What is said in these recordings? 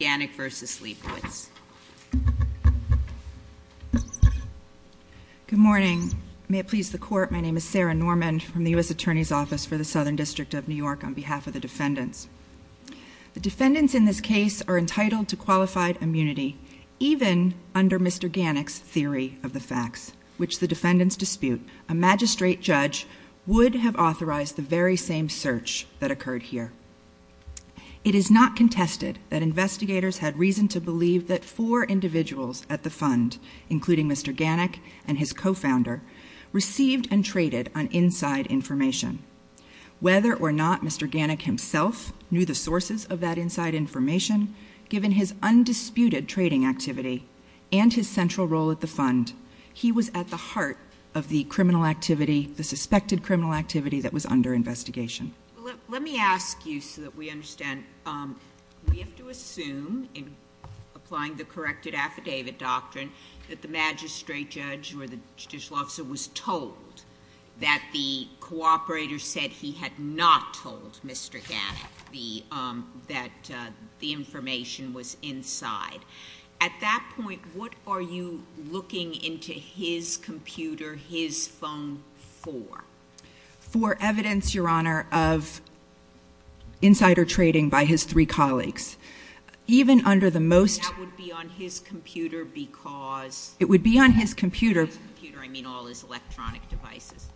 Good morning. May it please the court, my name is Sarah Norman from the U.S. Attorney's Office for the Southern District of New York on behalf of the defendants. The defendants in this case are entitled to qualified immunity, even under Mr. Ganek's theory of the facts, which the defendants dispute. A magistrate judge would have authorized the very same search that occurred here. It is not contested that investigators had reason to believe that four individuals at the fund, including Mr. Ganek and his co-founder, received and traded on inside information. Whether or not Mr. Ganek himself knew the sources of that inside information, given his undisputed trading activity and his central role at the fund, he was at the heart of the criminal activity, the suspected criminal activity that was under investigation. Let me ask you so that we understand. We have to assume, in applying the corrected affidavit doctrine, that the magistrate judge or the judicial officer was told that the cooperator said he had not told Mr. Ganek that the information was inside. At that point, what are you looking into his computer, his phone, for? For evidence, Your Honor, of insider trading by his three colleagues. Even under the most... And that would be on his computer because... It would be on his computer... By his computer, I mean all his electronic devices.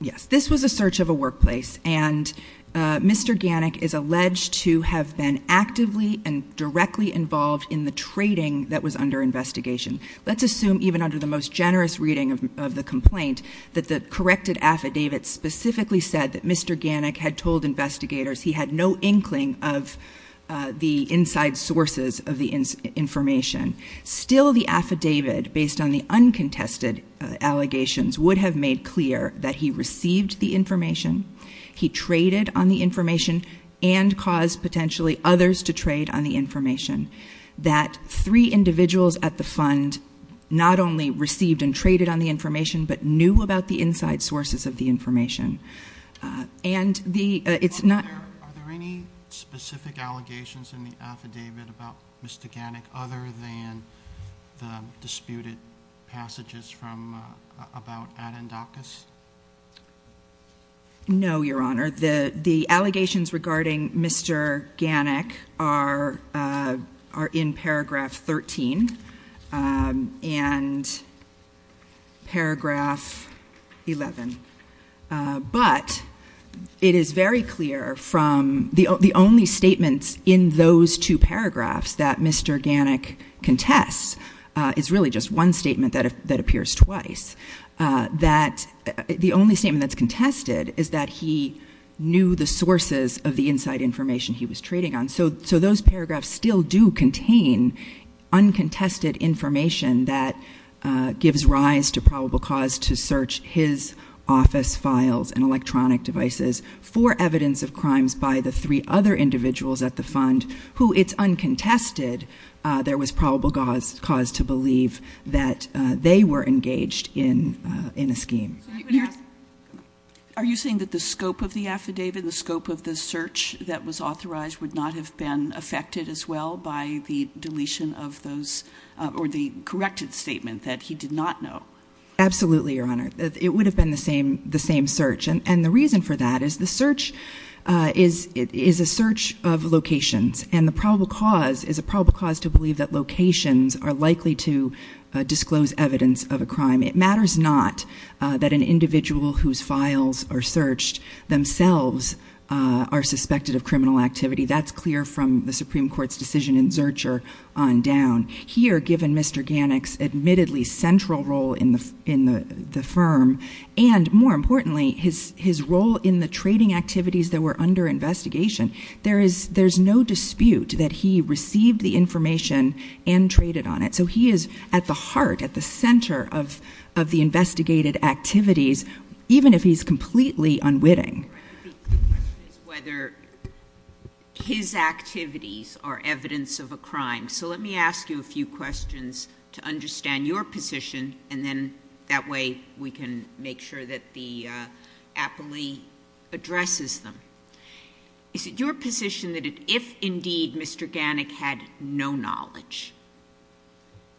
Yes. This was a search of a workplace, and Mr. Ganek is alleged to have been actively and directly involved in the trading that was under investigation. Let's assume, even under the most generous reading of the complaint, that the corrected affidavit specifically said that Mr. Ganek had told investigators he had no inkling of the inside sources of the information. Still, the affidavit, based on the uncontested allegations, would have made clear that he received the information, he traded on the information, and caused potentially others to trade on the information. That three individuals at the fund not only received and traded on the information, but knew about the inside sources of the information. And the... It's not... Are there any specific allegations in the affidavit about Mr. Ganek other than the disputed passages from... About Adendakis? No, Your Honor. The allegations regarding Mr. Ganek are in paragraph 13, and paragraph 11. But it is very clear from... The only statements in those two paragraphs that Mr. Ganek contests is really just one statement that appears twice. That... The only statement that's contested is that he knew the sources of the inside information he was trading on. So those paragraphs still do contain uncontested information that gives rise to probable cause to search his office files and electronic devices for evidence of crimes by the three other individuals at the fund who, it's uncontested, there was probable cause to believe that they were engaged in a scheme. Are you saying that the scope of the affidavit, the scope of the search that was authorized would not have been affected as well by the deletion of those, or the corrected statement that he did not know? Absolutely, Your Honor. It would have been the same search. And the reason for that is the search is a search of locations, and the probable cause is a probable cause to believe that locations are likely to disclose evidence of a crime. It matters not that an individual whose files are searched themselves are suspected of criminal activity. That's clear from the Supreme Court's decision in Zurcher on down. Here, given Mr. Ganek's admittedly central role in the firm, and more importantly, his role in the trading activities that were under investigation, there's no dispute that he received the information and traded on it. So he is at the heart, at the center of the investigated activities, even if he's completely unwitting. The question is whether his activities are evidence of a crime. So let me ask you a few questions to understand your position, and then that way we can make sure that the appellee addresses them. Is it your position that if indeed Mr. Ganek had no knowledge,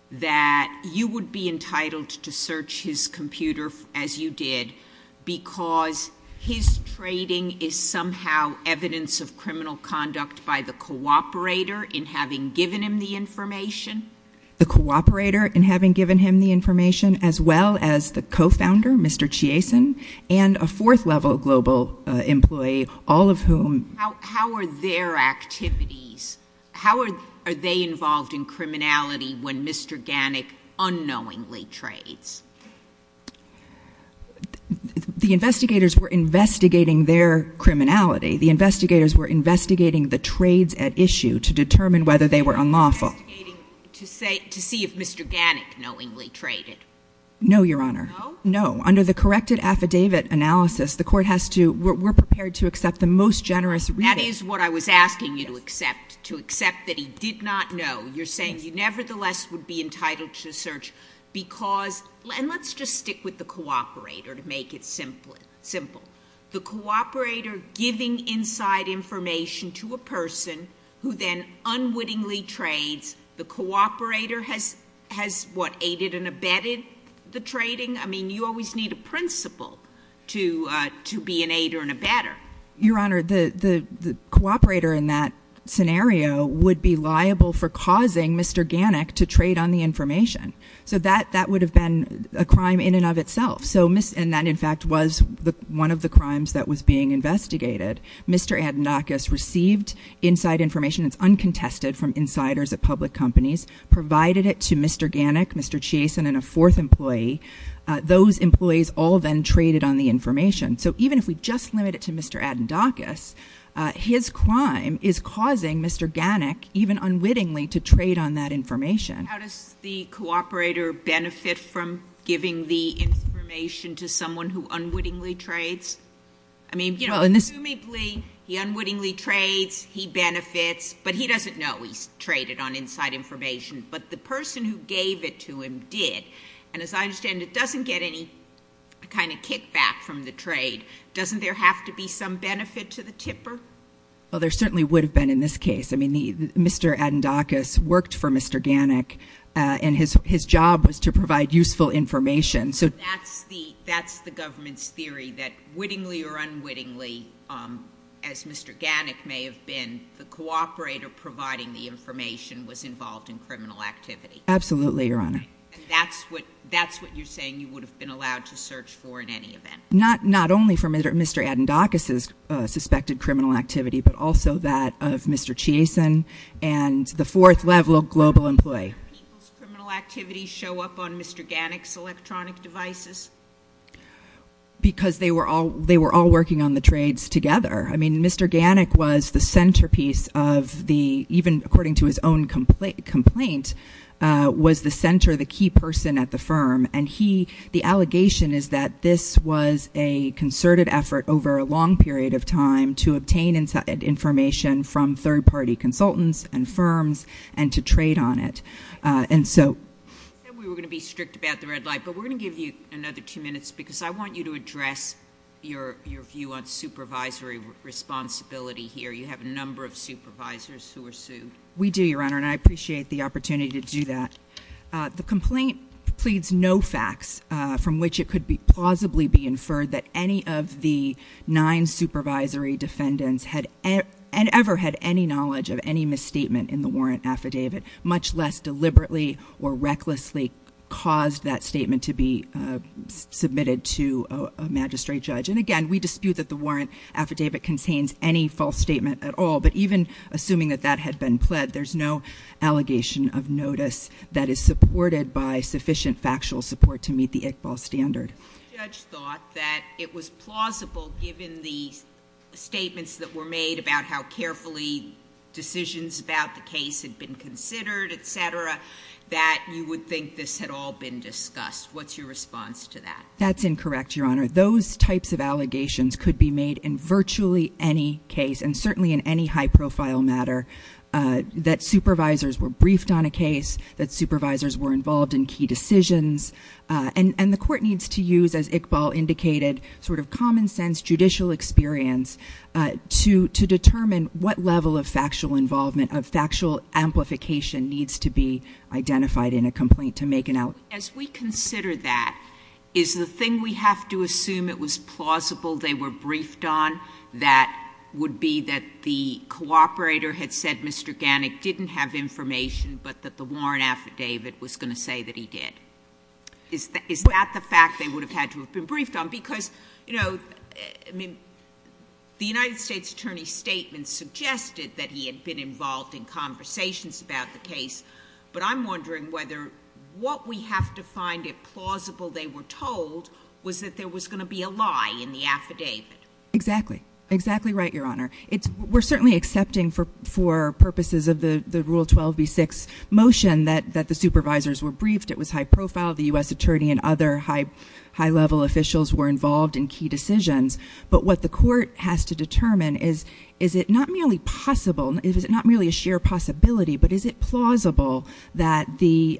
that you would be entitled to search his computer as you did because his trading is somehow evidence of criminal conduct by the cooperator in having given him the information? The cooperator in having given him the information, as well as the co-founder, Mr. Chiasen, and a fourth-level global employee, all of whom... How are their activities, how are they involved in criminality when Mr. Ganek unknowingly trades? The investigators were investigating their criminality. The investigators were investigating the trades at issue to determine whether they were unlawful. To see if Mr. Ganek knowingly traded? No, Your Honor. No? No. Under the corrected affidavit analysis, the Court has to, we're prepared to accept the most generous reading. That is what I was asking you to accept, to accept that he did not know. You're saying you nevertheless would be entitled to search because, and let's just stick with the cooperator to make it simple. The cooperator giving inside information to a person who then unwittingly trades, the cooperator has what, aided and abetted the Your Honor, the cooperator in that scenario would be liable for causing Mr. Ganek to trade on the information. So that would have been a crime in and of itself. And that in fact was one of the crimes that was being investigated. Mr. Adnakis received inside information, it's uncontested from insiders at public companies, provided it to Mr. Ganek, Mr. Chiasen, and a fourth employee. Those employees all then traded on the information. So even if we just limit it to Mr. Adnakis, his crime is causing Mr. Ganek, even unwittingly, to trade on that information. How does the cooperator benefit from giving the information to someone who unwittingly trades? I mean, you know, presumably he unwittingly trades, he benefits, but he doesn't know he's traded on inside information. But the person who gave it to him did. And as I understand, it doesn't get any kind of kickback from the trade. Doesn't there have to be some benefit to the tipper? Well, there certainly would have been in this case. I mean, Mr. Adnakis worked for Mr. Ganek, and his job was to provide useful information. So that's the, that's the government's theory that wittingly or unwittingly, as Mr. Ganek may have been, the cooperator providing the information was involved in criminal activity. Absolutely, Your Honor. And that's what, that's what you're saying you would have been allowed to search for in any event? Not, not only for Mr. Adnakis's suspected criminal activity, but also that of Mr. Chiasen and the fourth level global employee. How did people's criminal activity show up on Mr. Ganek's electronic devices? Because they were all, they were all working on the trades together. I mean, Mr. Ganek was the centerpiece of the, even according to his own complaint, uh, was the center, the key person at the firm. And he, the allegation is that this was a concerted effort over a long period of time to obtain inside information from third party consultants and firms and to trade on it. Uh, and so. We were going to be strict about the red light, but we're going to give you another two minutes because I want you to address your, your view on supervisory responsibility here. You have a number of supervisors who are sued. We do, Your Honor. And I appreciate the opportunity to do that. Uh, the complaint pleads no facts, uh, from which it could be plausibly be inferred that any of the nine supervisory defendants had ever had any knowledge of any misstatement in the warrant affidavit, much less deliberately or recklessly caused that statement to be, uh, submitted to a magistrate judge. And again, we dispute that the warrant affidavit contains any false statement at all. But even assuming that that had been pled, there's no allegation of notice that is supported by sufficient factual support to meet the Iqbal standard. The judge thought that it was plausible given the statements that were made about how carefully decisions about the case had been considered, et cetera, that you would think this had all been discussed. What's your response to that? That's incorrect, Your Honor. Those types of allegations could be made in virtually any case and certainly in any high profile matter, uh, that supervisors were briefed on a case, that supervisors were involved in key decisions, uh, and, and the court needs to use, as Iqbal indicated, sort of common sense judicial experience, uh, to, to determine what level of factual involvement, of factual amplification needs to be identified in a complaint to make an allegation. As we consider that, is the thing we have to assume it was plausible they were briefed on that would be that the cooperator had said Mr. Gannick didn't have information, but that the warrant affidavit was going to say that he did? Is that, is that the fact they would have had to have been briefed on? Because, you know, I mean, the United States Attorney's statement suggested that he had been involved in conversations about the case, but I'm wondering whether what we have to find it plausible they were told was that there was going to be a lie in the affidavit. Exactly. Exactly right, Your Honor. It's, we're certainly accepting for, for purposes of the, the Rule 12b-6 motion that, that the supervisors were briefed. It was high profile. The U.S. Attorney and other high, high level officials were involved in key decisions, but what the court has to determine is, is it not merely possible, is it not merely a sheer possibility, but is it plausible that the,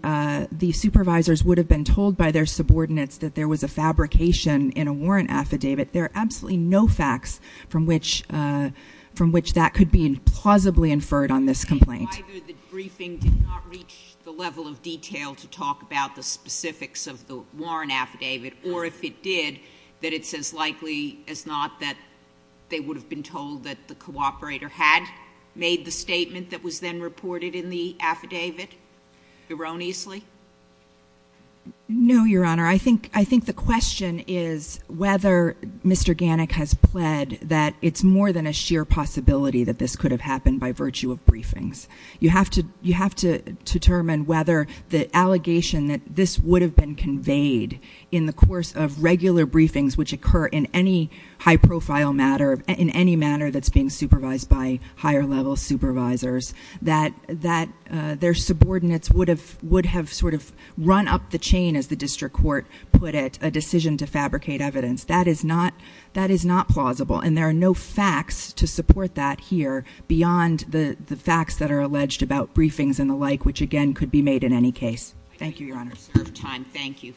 the supervisors would have been told by their subordinates that there was a fabrication in a warrant affidavit? There are absolutely no facts from which, from which that could be plausibly inferred on this complaint. Either the briefing did not reach the level of detail to talk about the specifics of the warrant affidavit, or if it did, that it's as likely as not that they would have been told that the cooperator had made the statement that was then reported in the affidavit erroneously? No, Your Honor. I think, I think the question is whether Mr. Gannik has pled that it's more than a sheer possibility that this could have happened by virtue of briefings. You have to, you have to determine whether the allegation that this would have been conveyed in the manner that's being supervised by higher level supervisors, that, that their subordinates would have, would have sort of run up the chain, as the district court put it, a decision to fabricate evidence. That is not, that is not plausible, and there are no facts to support that here beyond the, the facts that are alleged about briefings and the like, which again could be made in any case. Thank you, Your Honor. We have served time. Thank you.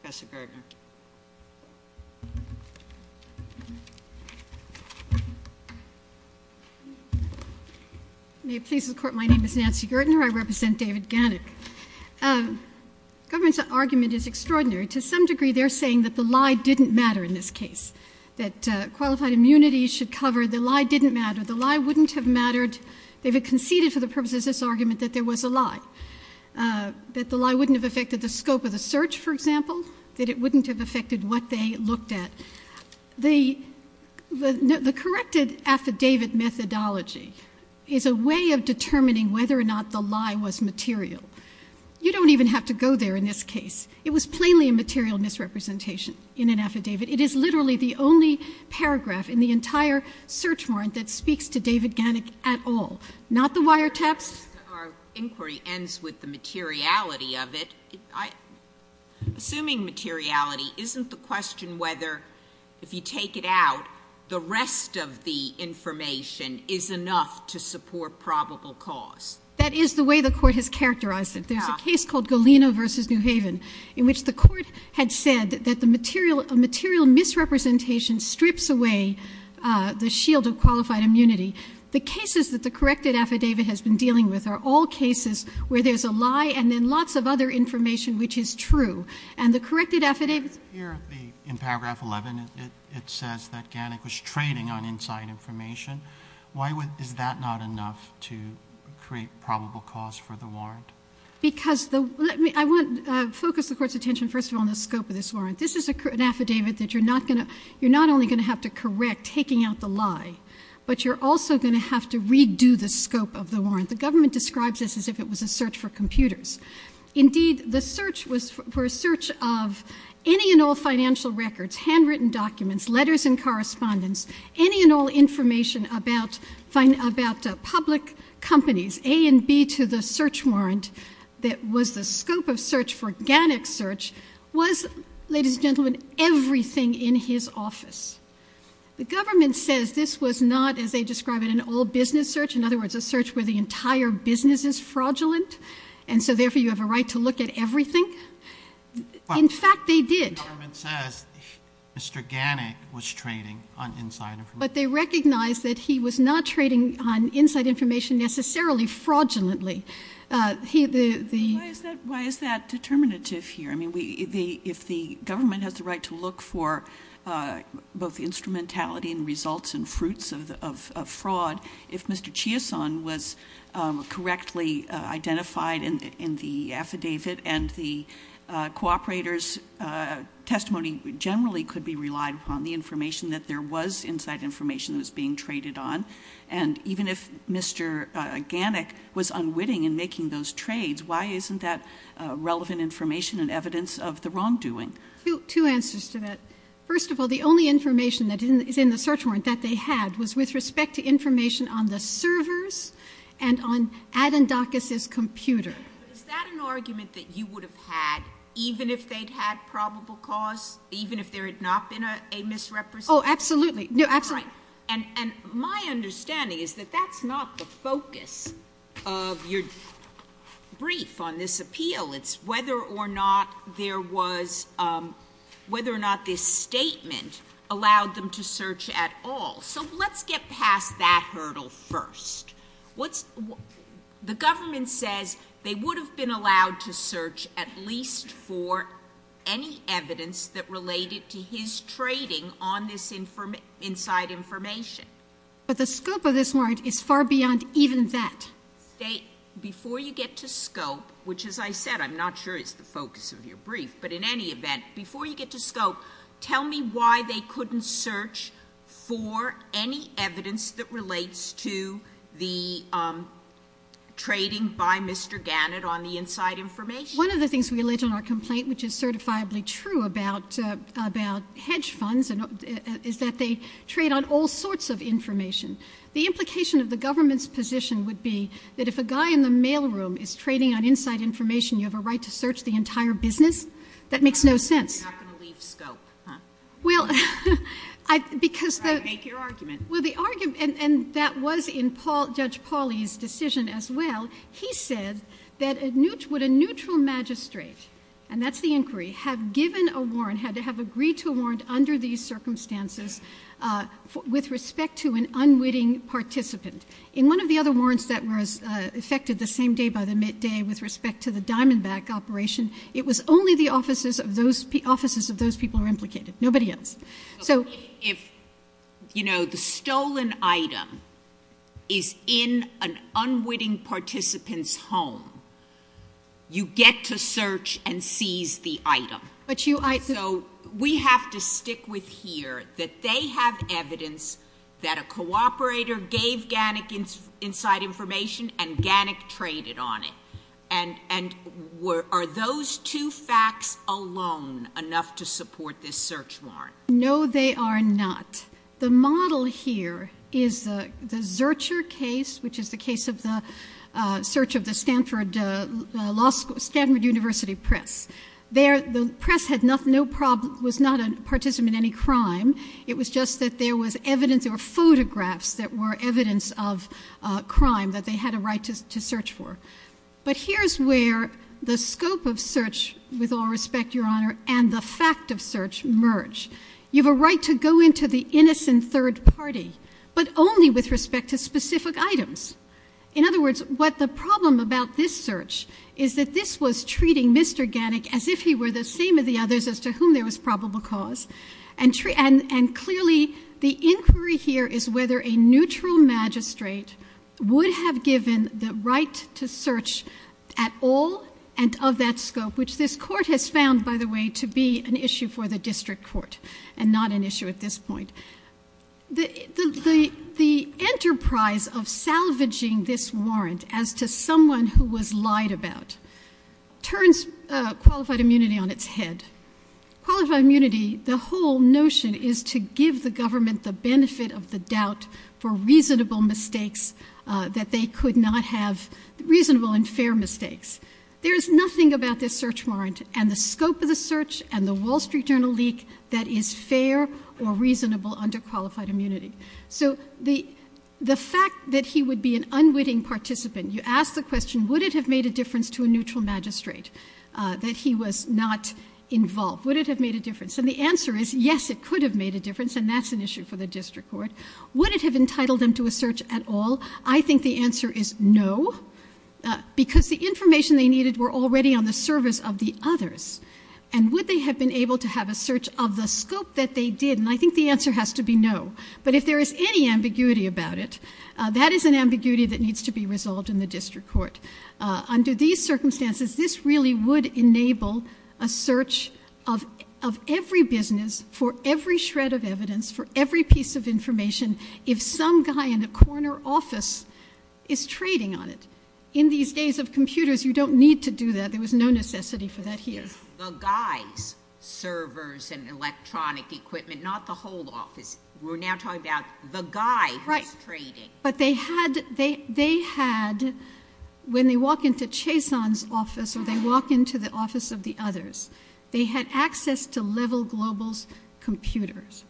Professor Gartner. May it please the Court, my name is Nancy Gartner. I represent David Gannik. Government's argument is extraordinary. To some degree, they're saying that the lie didn't matter in this case, that qualified immunity should cover the lie didn't matter. The lie wouldn't have mattered if it conceded for the purposes of this argument that there was a lie, that the lie wouldn't have affected the scope of the search, for example, that it wouldn't have affected what they looked at. The, the corrected affidavit methodology is a way of determining whether or not the lie was material. You don't even have to go there in this case. It was plainly a material misrepresentation in an affidavit. It is literally the only paragraph in the entire search warrant that speaks to David Gannik at all, not the wire intercepts. Our inquiry ends with the materiality of it. Assuming materiality, isn't the question whether if you take it out, the rest of the information is enough to support probable cause? That is the way the Court has characterized it. There's a case called Galena v. New Haven in which the Court had said that the material, a material misrepresentation strips away the fact that there was a lie, and then lots of other information which is true. And the corrected affidavit's ---- Roberts, here in paragraph 11, it says that Gannik was trading on inside information. Why would, is that not enough to create probable cause for the warrant? Because the, let me, I want to focus the Court's attention first of all on the scope of this warrant. This is an affidavit that you're not going to, you're not only going to have to correct taking out the lie, but you're also going to have to redo the scope of the warrant. The government describes this as if it was a search for computers. Indeed, the search was for a search of any and all financial records, handwritten documents, letters and correspondence, any and all information about public companies, A and B to the search warrant that was the scope of search for Gannik's search, was, ladies and gentlemen, everything in his office. The government says this was not, as they describe it, an all-business search. In other words, a search where the entire business is fraudulent, and so therefore you have a right to look at everything. In fact, they did. Well, the government says Mr. Gannik was trading on inside information. But they recognize that he was not trading on inside information necessarily fraudulently. He, the, the ---- Why is that determinative here? I mean, if the government has the right to look for both instrumentality and results and fruits of fraud, if Mr. Chiason was correctly identified in the affidavit and the cooperator's testimony generally could be relied upon, the information that there was inside information that was being traded on, and even if Mr. Gannik was not, wasn't that relevant information and evidence of the wrongdoing? Two answers to that. First of all, the only information that is in the search warrant that they had was with respect to information on the servers and on Adendakis's computer. But is that an argument that you would have had even if they'd had probable cause, even if there had not been a misrepresentation? Oh, absolutely. No, absolutely. And, and my understanding is that that's not the focus of your brief on this appeal. It's whether or not there was, whether or not this statement allowed them to search at all. So let's get past that hurdle first. What's, the government says they would have been allowed to search at least for any evidence that related to his trading on this inside information But the scope of this warrant is far beyond even that. They, before you get to scope, which as I said, I'm not sure it's the focus of your brief, but in any event, before you get to scope, tell me why they couldn't search for any evidence that relates to the trading by Mr. Gannik on the inside information. One of the things we allege on our complaint, which is certifiably true about, about hedge funds, is that they trade on all sorts of information. The implication of the government's position would be that if a guy in the mailroom is trading on inside information, you have a right to search the entire business. That makes no sense. You're not going to leave scope, huh? Well, I, because the All right, make your argument. Well, the argument, and that was in Paul, Judge Pauly's decision as well. He said that a neutral, would a neutral magistrate, and that's the inquiry, have given a warrant, had to have agreed to a warrant under these circumstances, uh, with respect to an unwitting participant. In one of the other warrants that was, uh, affected the same day by the midday with respect to the Diamondback operation, it was only the offices of those, offices of those people were implicated, nobody else. So If, you know, the stolen item is in an unwitting participant's home, you get to search and seize the item. But you, I So, we have to stick with here that they have evidence that a cooperator gave Gannick inside information and Gannick traded on it. And, and were, are those two facts alone enough to support this search warrant? No, they are not. The model here is the, the Zurcher case, which is the case of the, uh, the press had no problem, was not a participant in any crime. It was just that there was evidence or photographs that were evidence of, uh, crime that they had a right to, to search for. But here's where the scope of search, with all respect, Your Honor, and the fact of search merge. You have a right to go into the innocent third party, but only with respect to specific items. In other words, what the problem about this search is that this was treating Mr. Gannick as if he were the same as the others as to whom there was probable cause and, and clearly the inquiry here is whether a neutral magistrate would have given the right to search at all and of that scope, which this court has found by the way to be an issue for the district court and not an issue at this point. The, the, the, the enterprise of salvaging this warrant as to someone who was lied about turns, uh, qualified immunity on its head. Qualified immunity, the whole notion is to give the government the benefit of the doubt for reasonable mistakes, uh, that they could not have reasonable and fair mistakes. There is nothing about this search warrant and the scope of the search and the fact that he would be an unwitting participant, you ask the question, would it have made a difference to a neutral magistrate, uh, that he was not involved? Would it have made a difference? And the answer is yes, it could have made a difference and that's an issue for the district court. Would it have entitled them to a search at all? I think the answer is no, uh, because the information they needed were already on the service of the others and would they have been able to have a search of the scope that they did? And I think the ambiguity about it, uh, that is an ambiguity that needs to be resolved in the district court. Uh, under these circumstances, this really would enable a search of, of every business for every shred of evidence for every piece of information. If some guy in a corner office is trading on it in these days of computers, you don't need to do that. There was no necessity for that here. The guy's servers and electronic equipment, not the whole office. We're now talking about the guy who's trading. Right. But they had, they, they had, when they walk into Chazon's office or they walk into the office of the others, they had access to Level Global's computers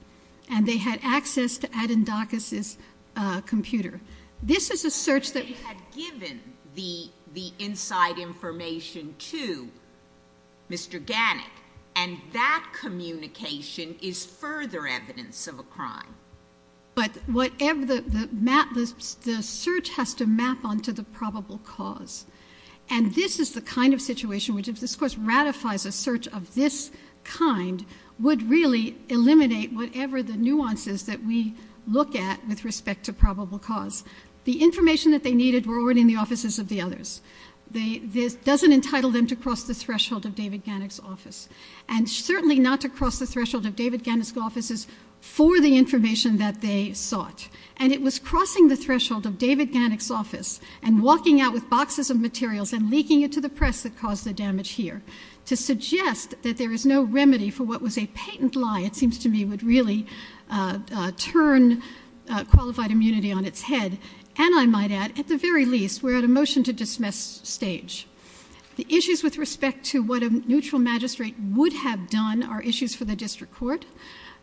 and they had access to Adendakis's, uh, computer. This is a search that they had given the, the inside information to Mr. Gannick and that communication is further evidence of a crime. But whatever the map, the search has to map onto the probable cause. And this is the kind of situation which, if this course ratifies a search of this kind, would really eliminate whatever the nuances that we look at with respect to probable cause. The information that they needed were already in the offices of the others. They, this doesn't entitle them to cross the threshold of David Gannick's office and certainly not to cross the threshold of David Gannick's offices for the information that they sought. And it was crossing the threshold of David Gannick's office and walking out with boxes of materials and leaking it to the press that caused the damage here to suggest that there is no remedy for what was a patent lie, it seems to me, would really, uh, uh, turn, uh, qualified immunity on its head. And I might add, at the very least, we're at a motion to dismiss stage. The issues with respect to what a neutral magistrate would have done are issues for the district court.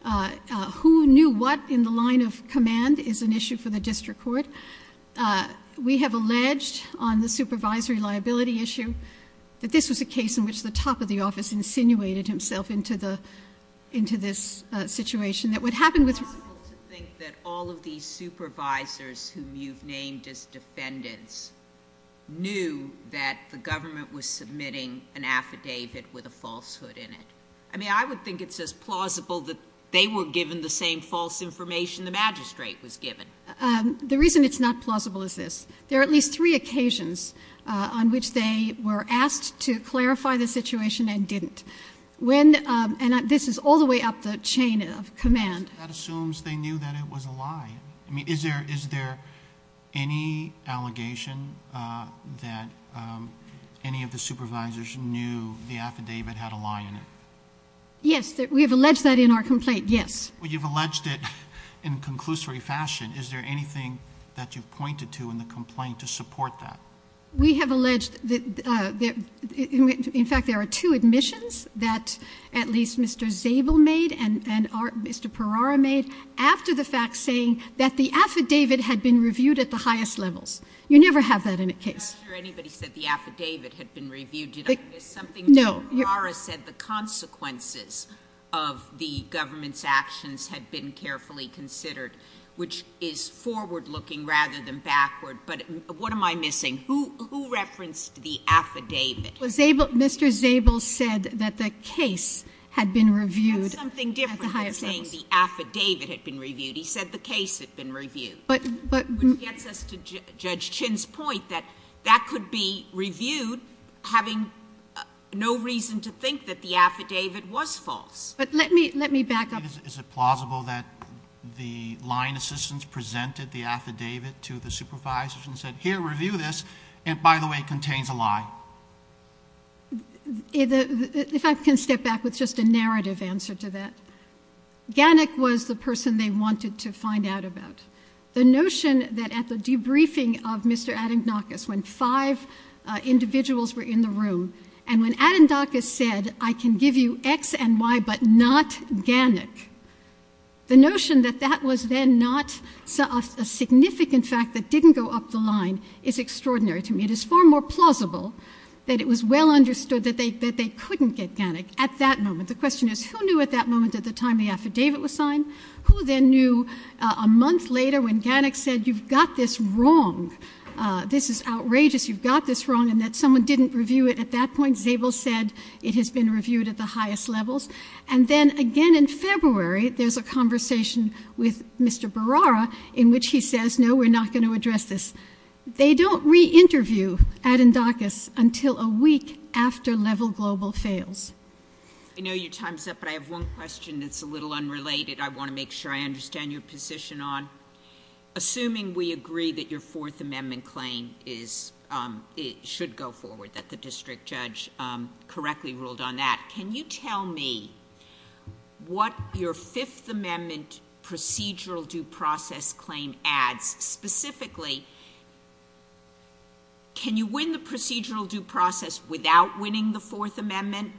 Uh, uh, who knew what in the line of command is an issue for the district court? Uh, we have alleged on the supervisory liability issue that this was a case in which the top of the office insinuated himself into the, into this, uh, situation that what happened with... It's possible to think that all of these supervisors whom you've named as defendants knew that the government was submitting an affidavit with a falsehood in it. I mean, I would think it's just plausible that they were given the same false information the magistrate was given. Um, the reason it's not plausible is this. There are at least three occasions, uh, on which they were asked to clarify the situation and didn't. When, um, and this is all the way up the chain of command. That assumes they knew that it was a lie. I mean, is there, is there any allegation, uh, that, um, any of the supervisors knew the affidavit had a lie in it? Yes. We have alleged that in our complaint. Yes. Well, you've alleged it in a conclusory fashion. Is there anything that you've pointed to in the complaint to support that? We have alleged that, uh, that, in fact, there are two admissions that at least Mr. Zabel made and, and our, Mr. Perara made after the fact saying that the affidavit had been reviewed at the highest levels. You never have that in a case. I'm not sure anybody said the affidavit had been reviewed. Did I miss something? No. Mr. Perara said the consequences of the government's actions had been carefully considered, which is forward looking rather than backward. But what am I missing? Who, who referenced the affidavit? Well, Zabel, Mr. Zabel said that the case had been reviewed at the highest levels. That's something different than saying the affidavit had been reviewed. He said the case had been reviewed. But, but Which gets us to Judge Chin's point that that could be reviewed having no reason to think that the affidavit was false. But let me, let me back up. Is it plausible that the line assistants presented the affidavit to the supervisors and said, here, review this, and by the way, it contains a lie? If I can step back with just a narrative answer to that. Gannik was the person they wanted to find out about. The notion that at the debriefing of Mr. Adendakis, when five individuals were in the room, and when Adendakis said, I can give you X and Y, but not Gannik. The notion that that was then not a significant fact that didn't go up the line is extraordinary to me. It is far more plausible that it was well understood that they, that they couldn't get Gannik at that moment. The question is, who knew at that moment, at the time the affidavit was signed, who then knew a month later when Gannik said, you've got this wrong, this is outrageous, you've got this wrong, and that someone didn't review it at that point. Zabel said it has been reviewed at the highest levels. And then again in February, there's a conversation with Mr. Berrara, in which he says, no, we're not going to address this. They don't re-interview Adendakis until a week after Level Global fails. I know your time's up, but I have one question that's a little unrelated. I want to make sure I understand your position on, assuming we agree that your Fourth Amendment claim is, should go forward, that the district judge correctly ruled on that, can you tell me what your Fifth Amendment procedural due process claim adds? Specifically, can you win the Fifth Amendment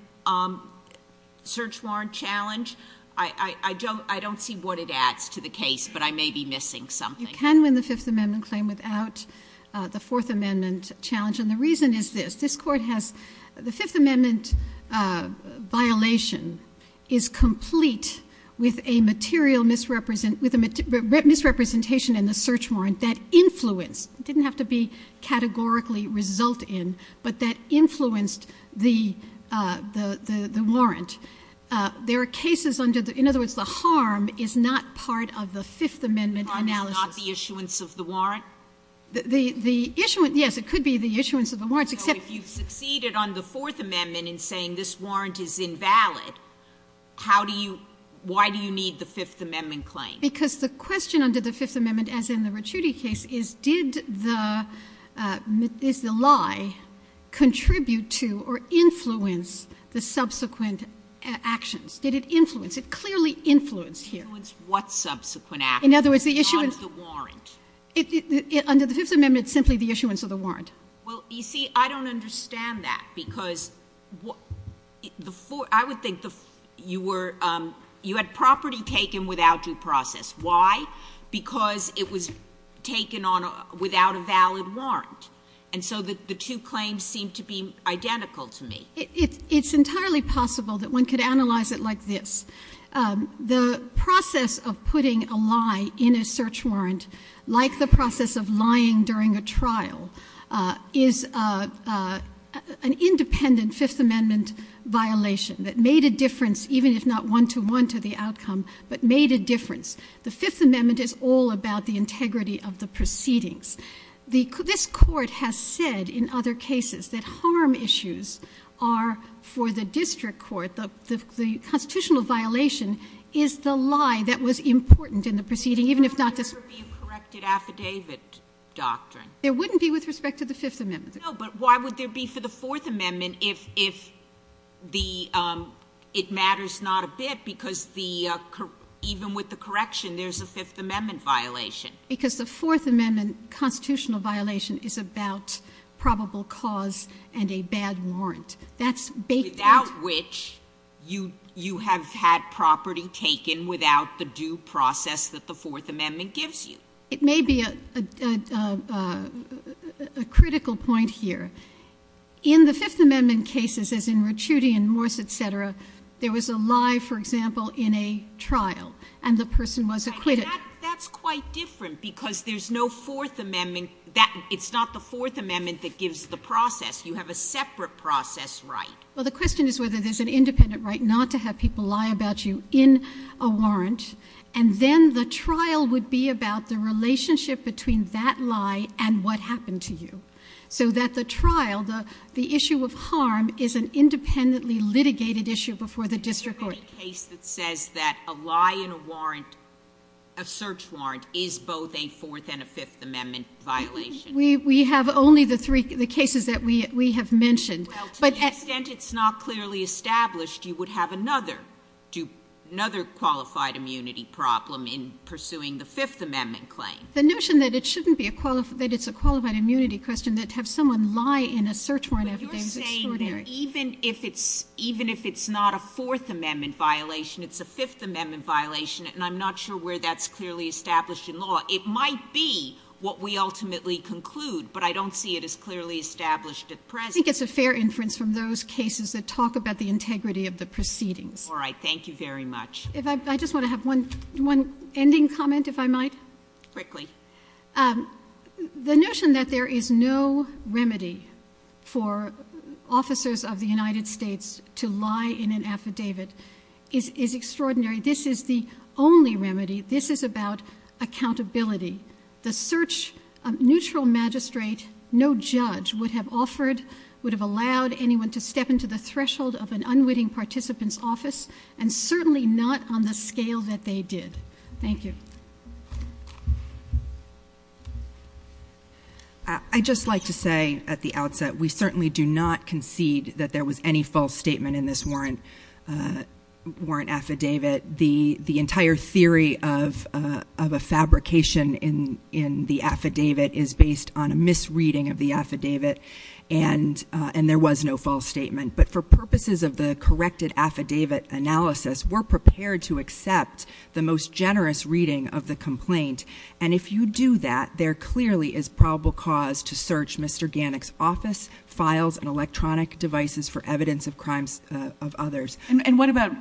search warrant challenge? I don't see what it adds to the case, but I may be missing something. You can win the Fifth Amendment claim without the Fourth Amendment challenge, and the reason is this. This Court has, the Fifth Amendment violation is complete with a material misrepresentation in the search warrant that influenced, didn't have to be categorically result in, but that the warrant. There are cases under the, in other words, the harm is not part of the Fifth The harm is not the issuance of the warrant? The issuance, yes, it could be the issuance of the warrants, except— So if you've succeeded on the Fourth Amendment in saying this warrant is invalid, how do you, why do you need the Fifth Amendment claim? Because the question under the Fifth Amendment, as in the Ricciuti case, is did the, is the warrant influence the subsequent actions? Did it influence? It clearly influenced here. Influence what subsequent actions? In other words, the issuance— Not the warrant. Under the Fifth Amendment, it's simply the issuance of the warrant. Well, you see, I don't understand that, because the, I would think the, you were, you had property taken without due process. Why? Because it was taken on, without a valid warrant. And so the two claims seem to be identical to me. It's entirely possible that one could analyze it like this. The process of putting a lie in a search warrant, like the process of lying during a trial, is an independent Fifth Amendment violation that made a difference, even if not one-to-one to the outcome, but made a difference. The Fifth Amendment is all about the integrity of the proceedings. The, this Court has said in other cases that harm issues are, for the district court, the, the constitutional violation is the lie that was important in the proceeding, even if not the— There would never be a corrected affidavit doctrine. There wouldn't be with respect to the Fifth Amendment. No, but why would there be for the Fourth Amendment if, if the, it matters not a bit, because the, even with the correction, there's a Fifth Amendment violation. Because the Fourth Amendment constitutional violation is about probable cause and a bad warrant. That's baked in— Without which you, you have had property taken without the due process that the Fourth Amendment gives you. It may be a, a, a, a, a, a critical point here. In the Fifth Amendment cases, as in Ricciuti and Morse, et cetera, there was a lie, for example, in a trial, and the person was acquitted. That's quite different, because there's no Fourth Amendment that, it's not the Fourth Amendment that gives the process. You have a separate process right. Well, the question is whether there's an independent right not to have people lie about you in a warrant, and then the trial would be about the relationship between that lie and what happened to you. So that the trial, the, the issue of harm is an independently litigated issue before the district court. The case that says that a lie in a warrant, a search warrant, is both a Fourth and a Fifth Amendment violation. We, we have only the three, the cases that we, we have mentioned. Well, to the extent it's not clearly established, you would have another, another qualified immunity problem in pursuing the Fifth Amendment claim. The notion that it shouldn't be a qualified, that it's a qualified immunity question, that to have someone lie in a search warrant every day is extraordinary. Even if it's, even if it's not a Fourth Amendment violation, it's a Fifth Amendment violation, and I'm not sure where that's clearly established in law. It might be what we ultimately conclude, but I don't see it as clearly established at present. I think it's a fair inference from those cases that talk about the integrity of the proceedings. All right. Thank you very much. If I, I just want to have one, one ending comment, if I might. Quickly. Um, the notion that there is no remedy for officers of the United States to lie in an affidavit is, is extraordinary. This is the only remedy. This is about accountability. The search, a neutral magistrate, no judge would have offered, would have allowed anyone to step into the threshold of an unwitting participant's office, and certainly not on the scale that they did. Thank you. I, I'd just like to say at the outset, we certainly do not concede that there was any false statement in this warrant, warrant affidavit. The, the entire theory of, of a fabrication in, in the affidavit is based on a misreading of the affidavit, and, and there was no false statement. But for purposes of the corrected affidavit analysis, we're prepared to accept the most generous reading of the complaint. And if you do that, there clearly is probable cause to search Mr. Gannick's office files and electronic devices for evidence of crimes of others. And what about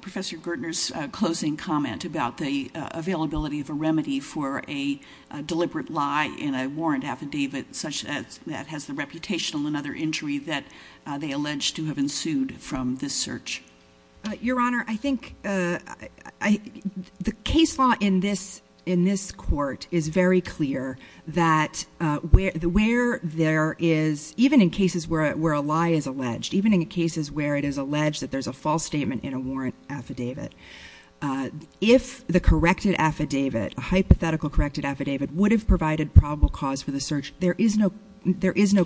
Professor Gertner's closing comment about the availability of a remedy for a deliberate lie in a warrant affidavit such as that has the reputational and other injury that they allege to have ensued from this search? Your Honor, I think, I, I, the case law in this, in this court is very clear that where, the, where there is, even in cases where, where a lie is alleged, even in cases where it is alleged that there's a false statement in a warrant affidavit, if the corrected affidavit, a hypothetical corrected affidavit would have provided probable cause for the search, there is no, there is no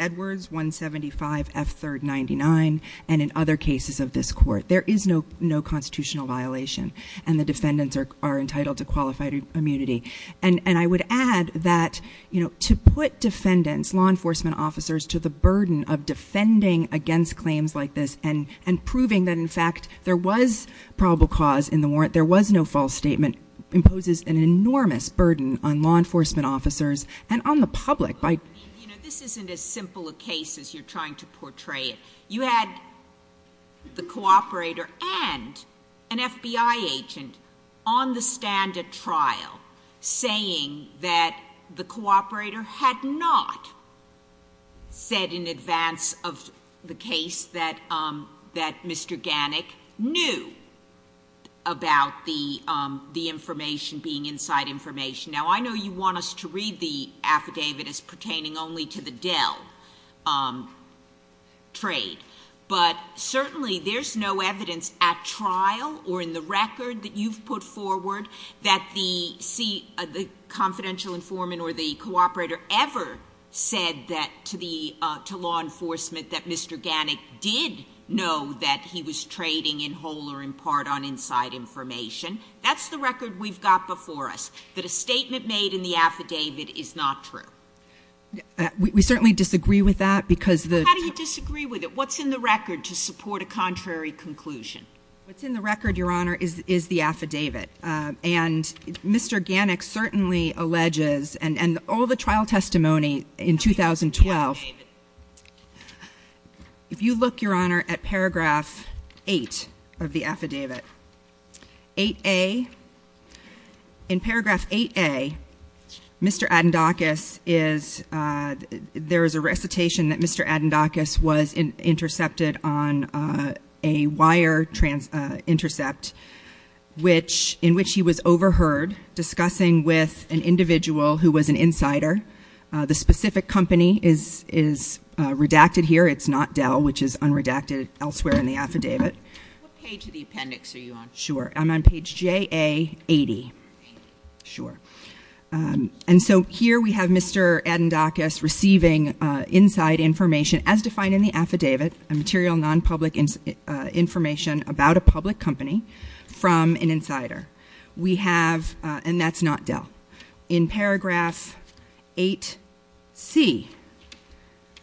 Edward's 175 F third 99. And in other cases of this court, there is no, no constitutional violation. And the defendants are, are entitled to qualified immunity. And, and I would add that, you know, to put defendants, law enforcement officers to the burden of defending against claims like this and, and proving that in fact there was probable cause in the warrant, there was no false statement imposes an enormous burden on law enforcement officers and on the public. You know, this isn't as simple a case as you're trying to portray it. You had the cooperator and an FBI agent on the stand at trial saying that the cooperator had not said in advance of the case that, um, that Mr. Gannick knew about the, um, the information being inside information. Now I know you want us to read the affidavit as pertaining only to the Dell, um, trade, but certainly there's no evidence at trial or in the record that you've put forward that the C, the confidential informant or the cooperator ever said that to the, uh, to law enforcement that Mr. Gannick did know that he was trading in whole or in part on inside information. That's the record we've got before us that a statement made in the affidavit is not true. We certainly disagree with that because the, how do you disagree with it? What's in the record to support a contrary conclusion? What's in the record, Your Honor, is, is the affidavit. Um, and Mr. Gannick certainly alleges and, and all the trial testimony in 2012, if you look, Your Honor, at paragraph eight of the affidavit, 8A, in paragraph 8A, Mr. Adendakis is, uh, there is a recitation that Mr. Adendakis was intercepted on, uh, a wire trans, uh, intercept, which, in which he was overheard discussing with an individual who was an insider. Uh, the specific company is, is, uh, redacted here. It's not Dell, which is unredacted elsewhere in the affidavit. What page of the appendix are you on? Sure. I'm on page JA 80. Sure. Um, and so here we have Mr. Adendakis receiving, uh, inside information as defined in the affidavit, a material non-public, uh, information about a public company from an insider. We have, uh, and that's not Dell. In paragraph 8C,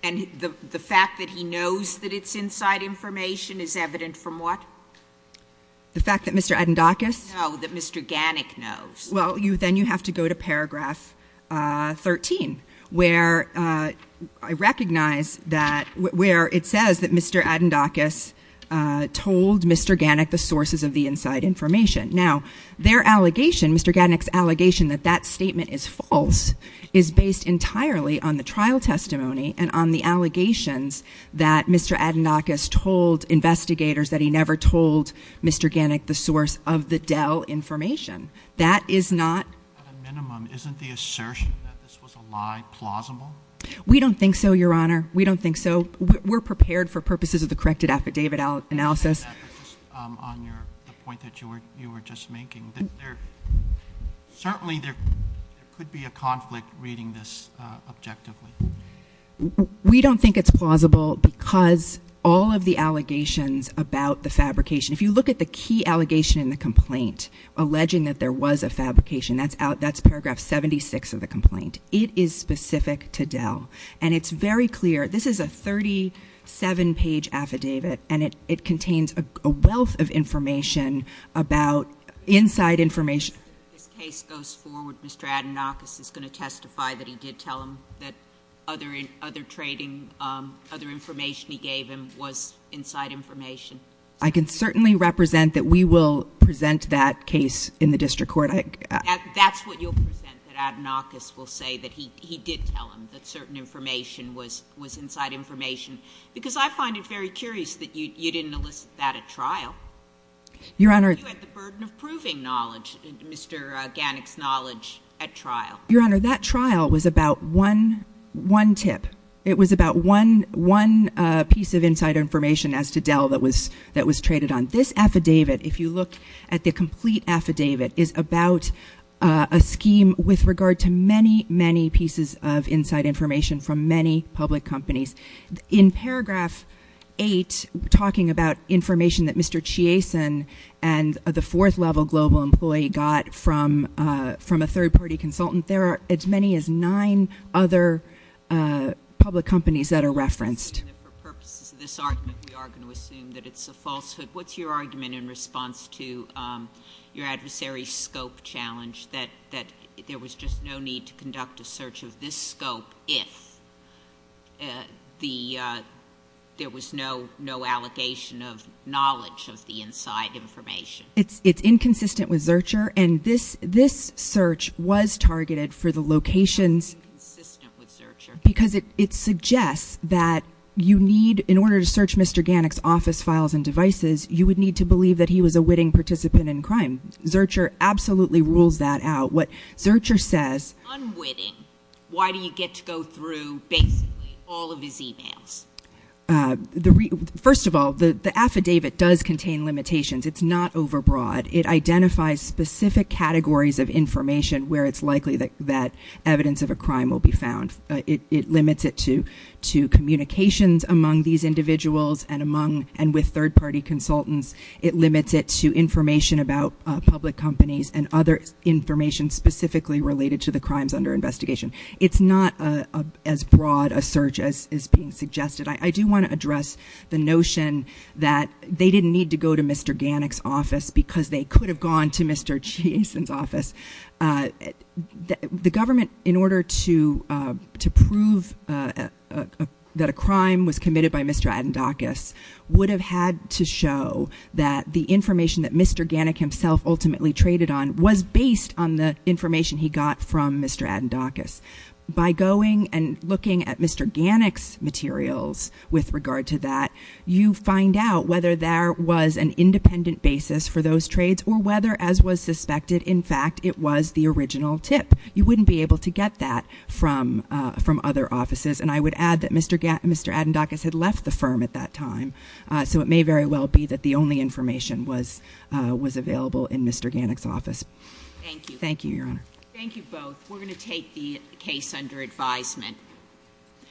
and the, the fact that he knows that it's inside information is evident from what? The fact that Mr. Adendakis? No, that Mr. Gannick knows. Well, you, then you have to go to paragraph, uh, 13, where, uh, I recognize that where it says that Mr. Adendakis, uh, told Mr. Gannick the sources of the inside information. Now, their allegation, Mr. Gannick's allegation that that statement is false is based entirely on the trial testimony and on the allegations that Mr. Gannick told investigators that he never told Mr. Gannick the source of the Dell information. That is not. At a minimum, isn't the assertion that this was a lie plausible? We don't think so, your honor. We don't think so. We're prepared for purposes of the corrected affidavit analysis. On your, the point that you were, you were just making that there, certainly there, there could be a conflict reading this, uh, objectively. We don't think it's plausible because all of the allegations about the fabrication, if you look at the key allegation in the complaint, alleging that there was a fabrication, that's out, that's paragraph 76 of the complaint. It is specific to Dell and it's very clear. This is a 37 page affidavit and it, it contains a wealth of information about inside information. This case goes forward. Mr. Adenakis is going to testify that he did tell him that other, other trading, um, other information he gave him was inside information. I can certainly represent that we will present that case in the district court. That's what you'll present that Adenakis will say that he, he did tell him that certain information was, was inside information because I find it very curious that you, you didn't elicit that at trial. Your honor. The burden of proving knowledge, Mr. Gannick's knowledge at trial. Your honor, that trial was about one, one tip. It was about one, one, a piece of inside information as to Dell that was, that was traded on this affidavit. If you look at the complete affidavit is about a scheme with regard to many, many pieces of inside information from many public companies in paragraph eight, talking about information that Mr. Chiasen and the fourth level global employee got from, uh, from a third party consultant, there are as many as nine other, uh, public companies that are referenced. And for purposes of this argument, we are going to assume that it's a falsehood. What's your argument in response to, um, your adversary scope challenge that, that there was just no need to conduct a search of this scope. If, uh, the, uh, there was no, no allegation of knowledge of the inside information. It's, it's inconsistent with Zurcher. And this, this search was targeted for the locations because it, it suggests that you need, in order to search Mr. Gannick's office files and devices, you would need to believe that he was a winning participant in crime. Zurcher absolutely rules that out. What Zurcher says, why do you get to go through basically all of his emails? Uh, the re first of all, the, the affidavit does contain limitations. It's not overbroad. It identifies specific categories of information where it's likely that, that evidence of a crime will be found. It, it limits it to, to communications among these individuals and among, and with third party consultants, it limits it to information about, uh, public companies and other information specifically related to the crimes under investigation. It's not, uh, as broad a search as is being suggested. I do want to address the notion that they didn't need to go to Mr. Gannick's office because they could have gone to Mr. Jason's office. Uh, the government in order to, uh, to prove, uh, uh, uh, that a crime was committed by Mr. Adendakis would have had to show that the information that Mr. Gannick himself ultimately traded on was based on the information he got from Mr. Adendakis. By going and looking at Mr. Gannick's materials with regard to that, you find out whether there was an independent basis for those trades or whether as was suspected, in fact, it was the original tip. You wouldn't be able to get that from, uh, from other offices. And I would add that Mr. Gannick, Mr. Adendakis had left the firm at that time. Uh, so it may very well be that the only information was, uh, was available in Mr. Gannick's office. Thank you. Thank you, Your Honor. Thank you both. We're going to take the case under advisement.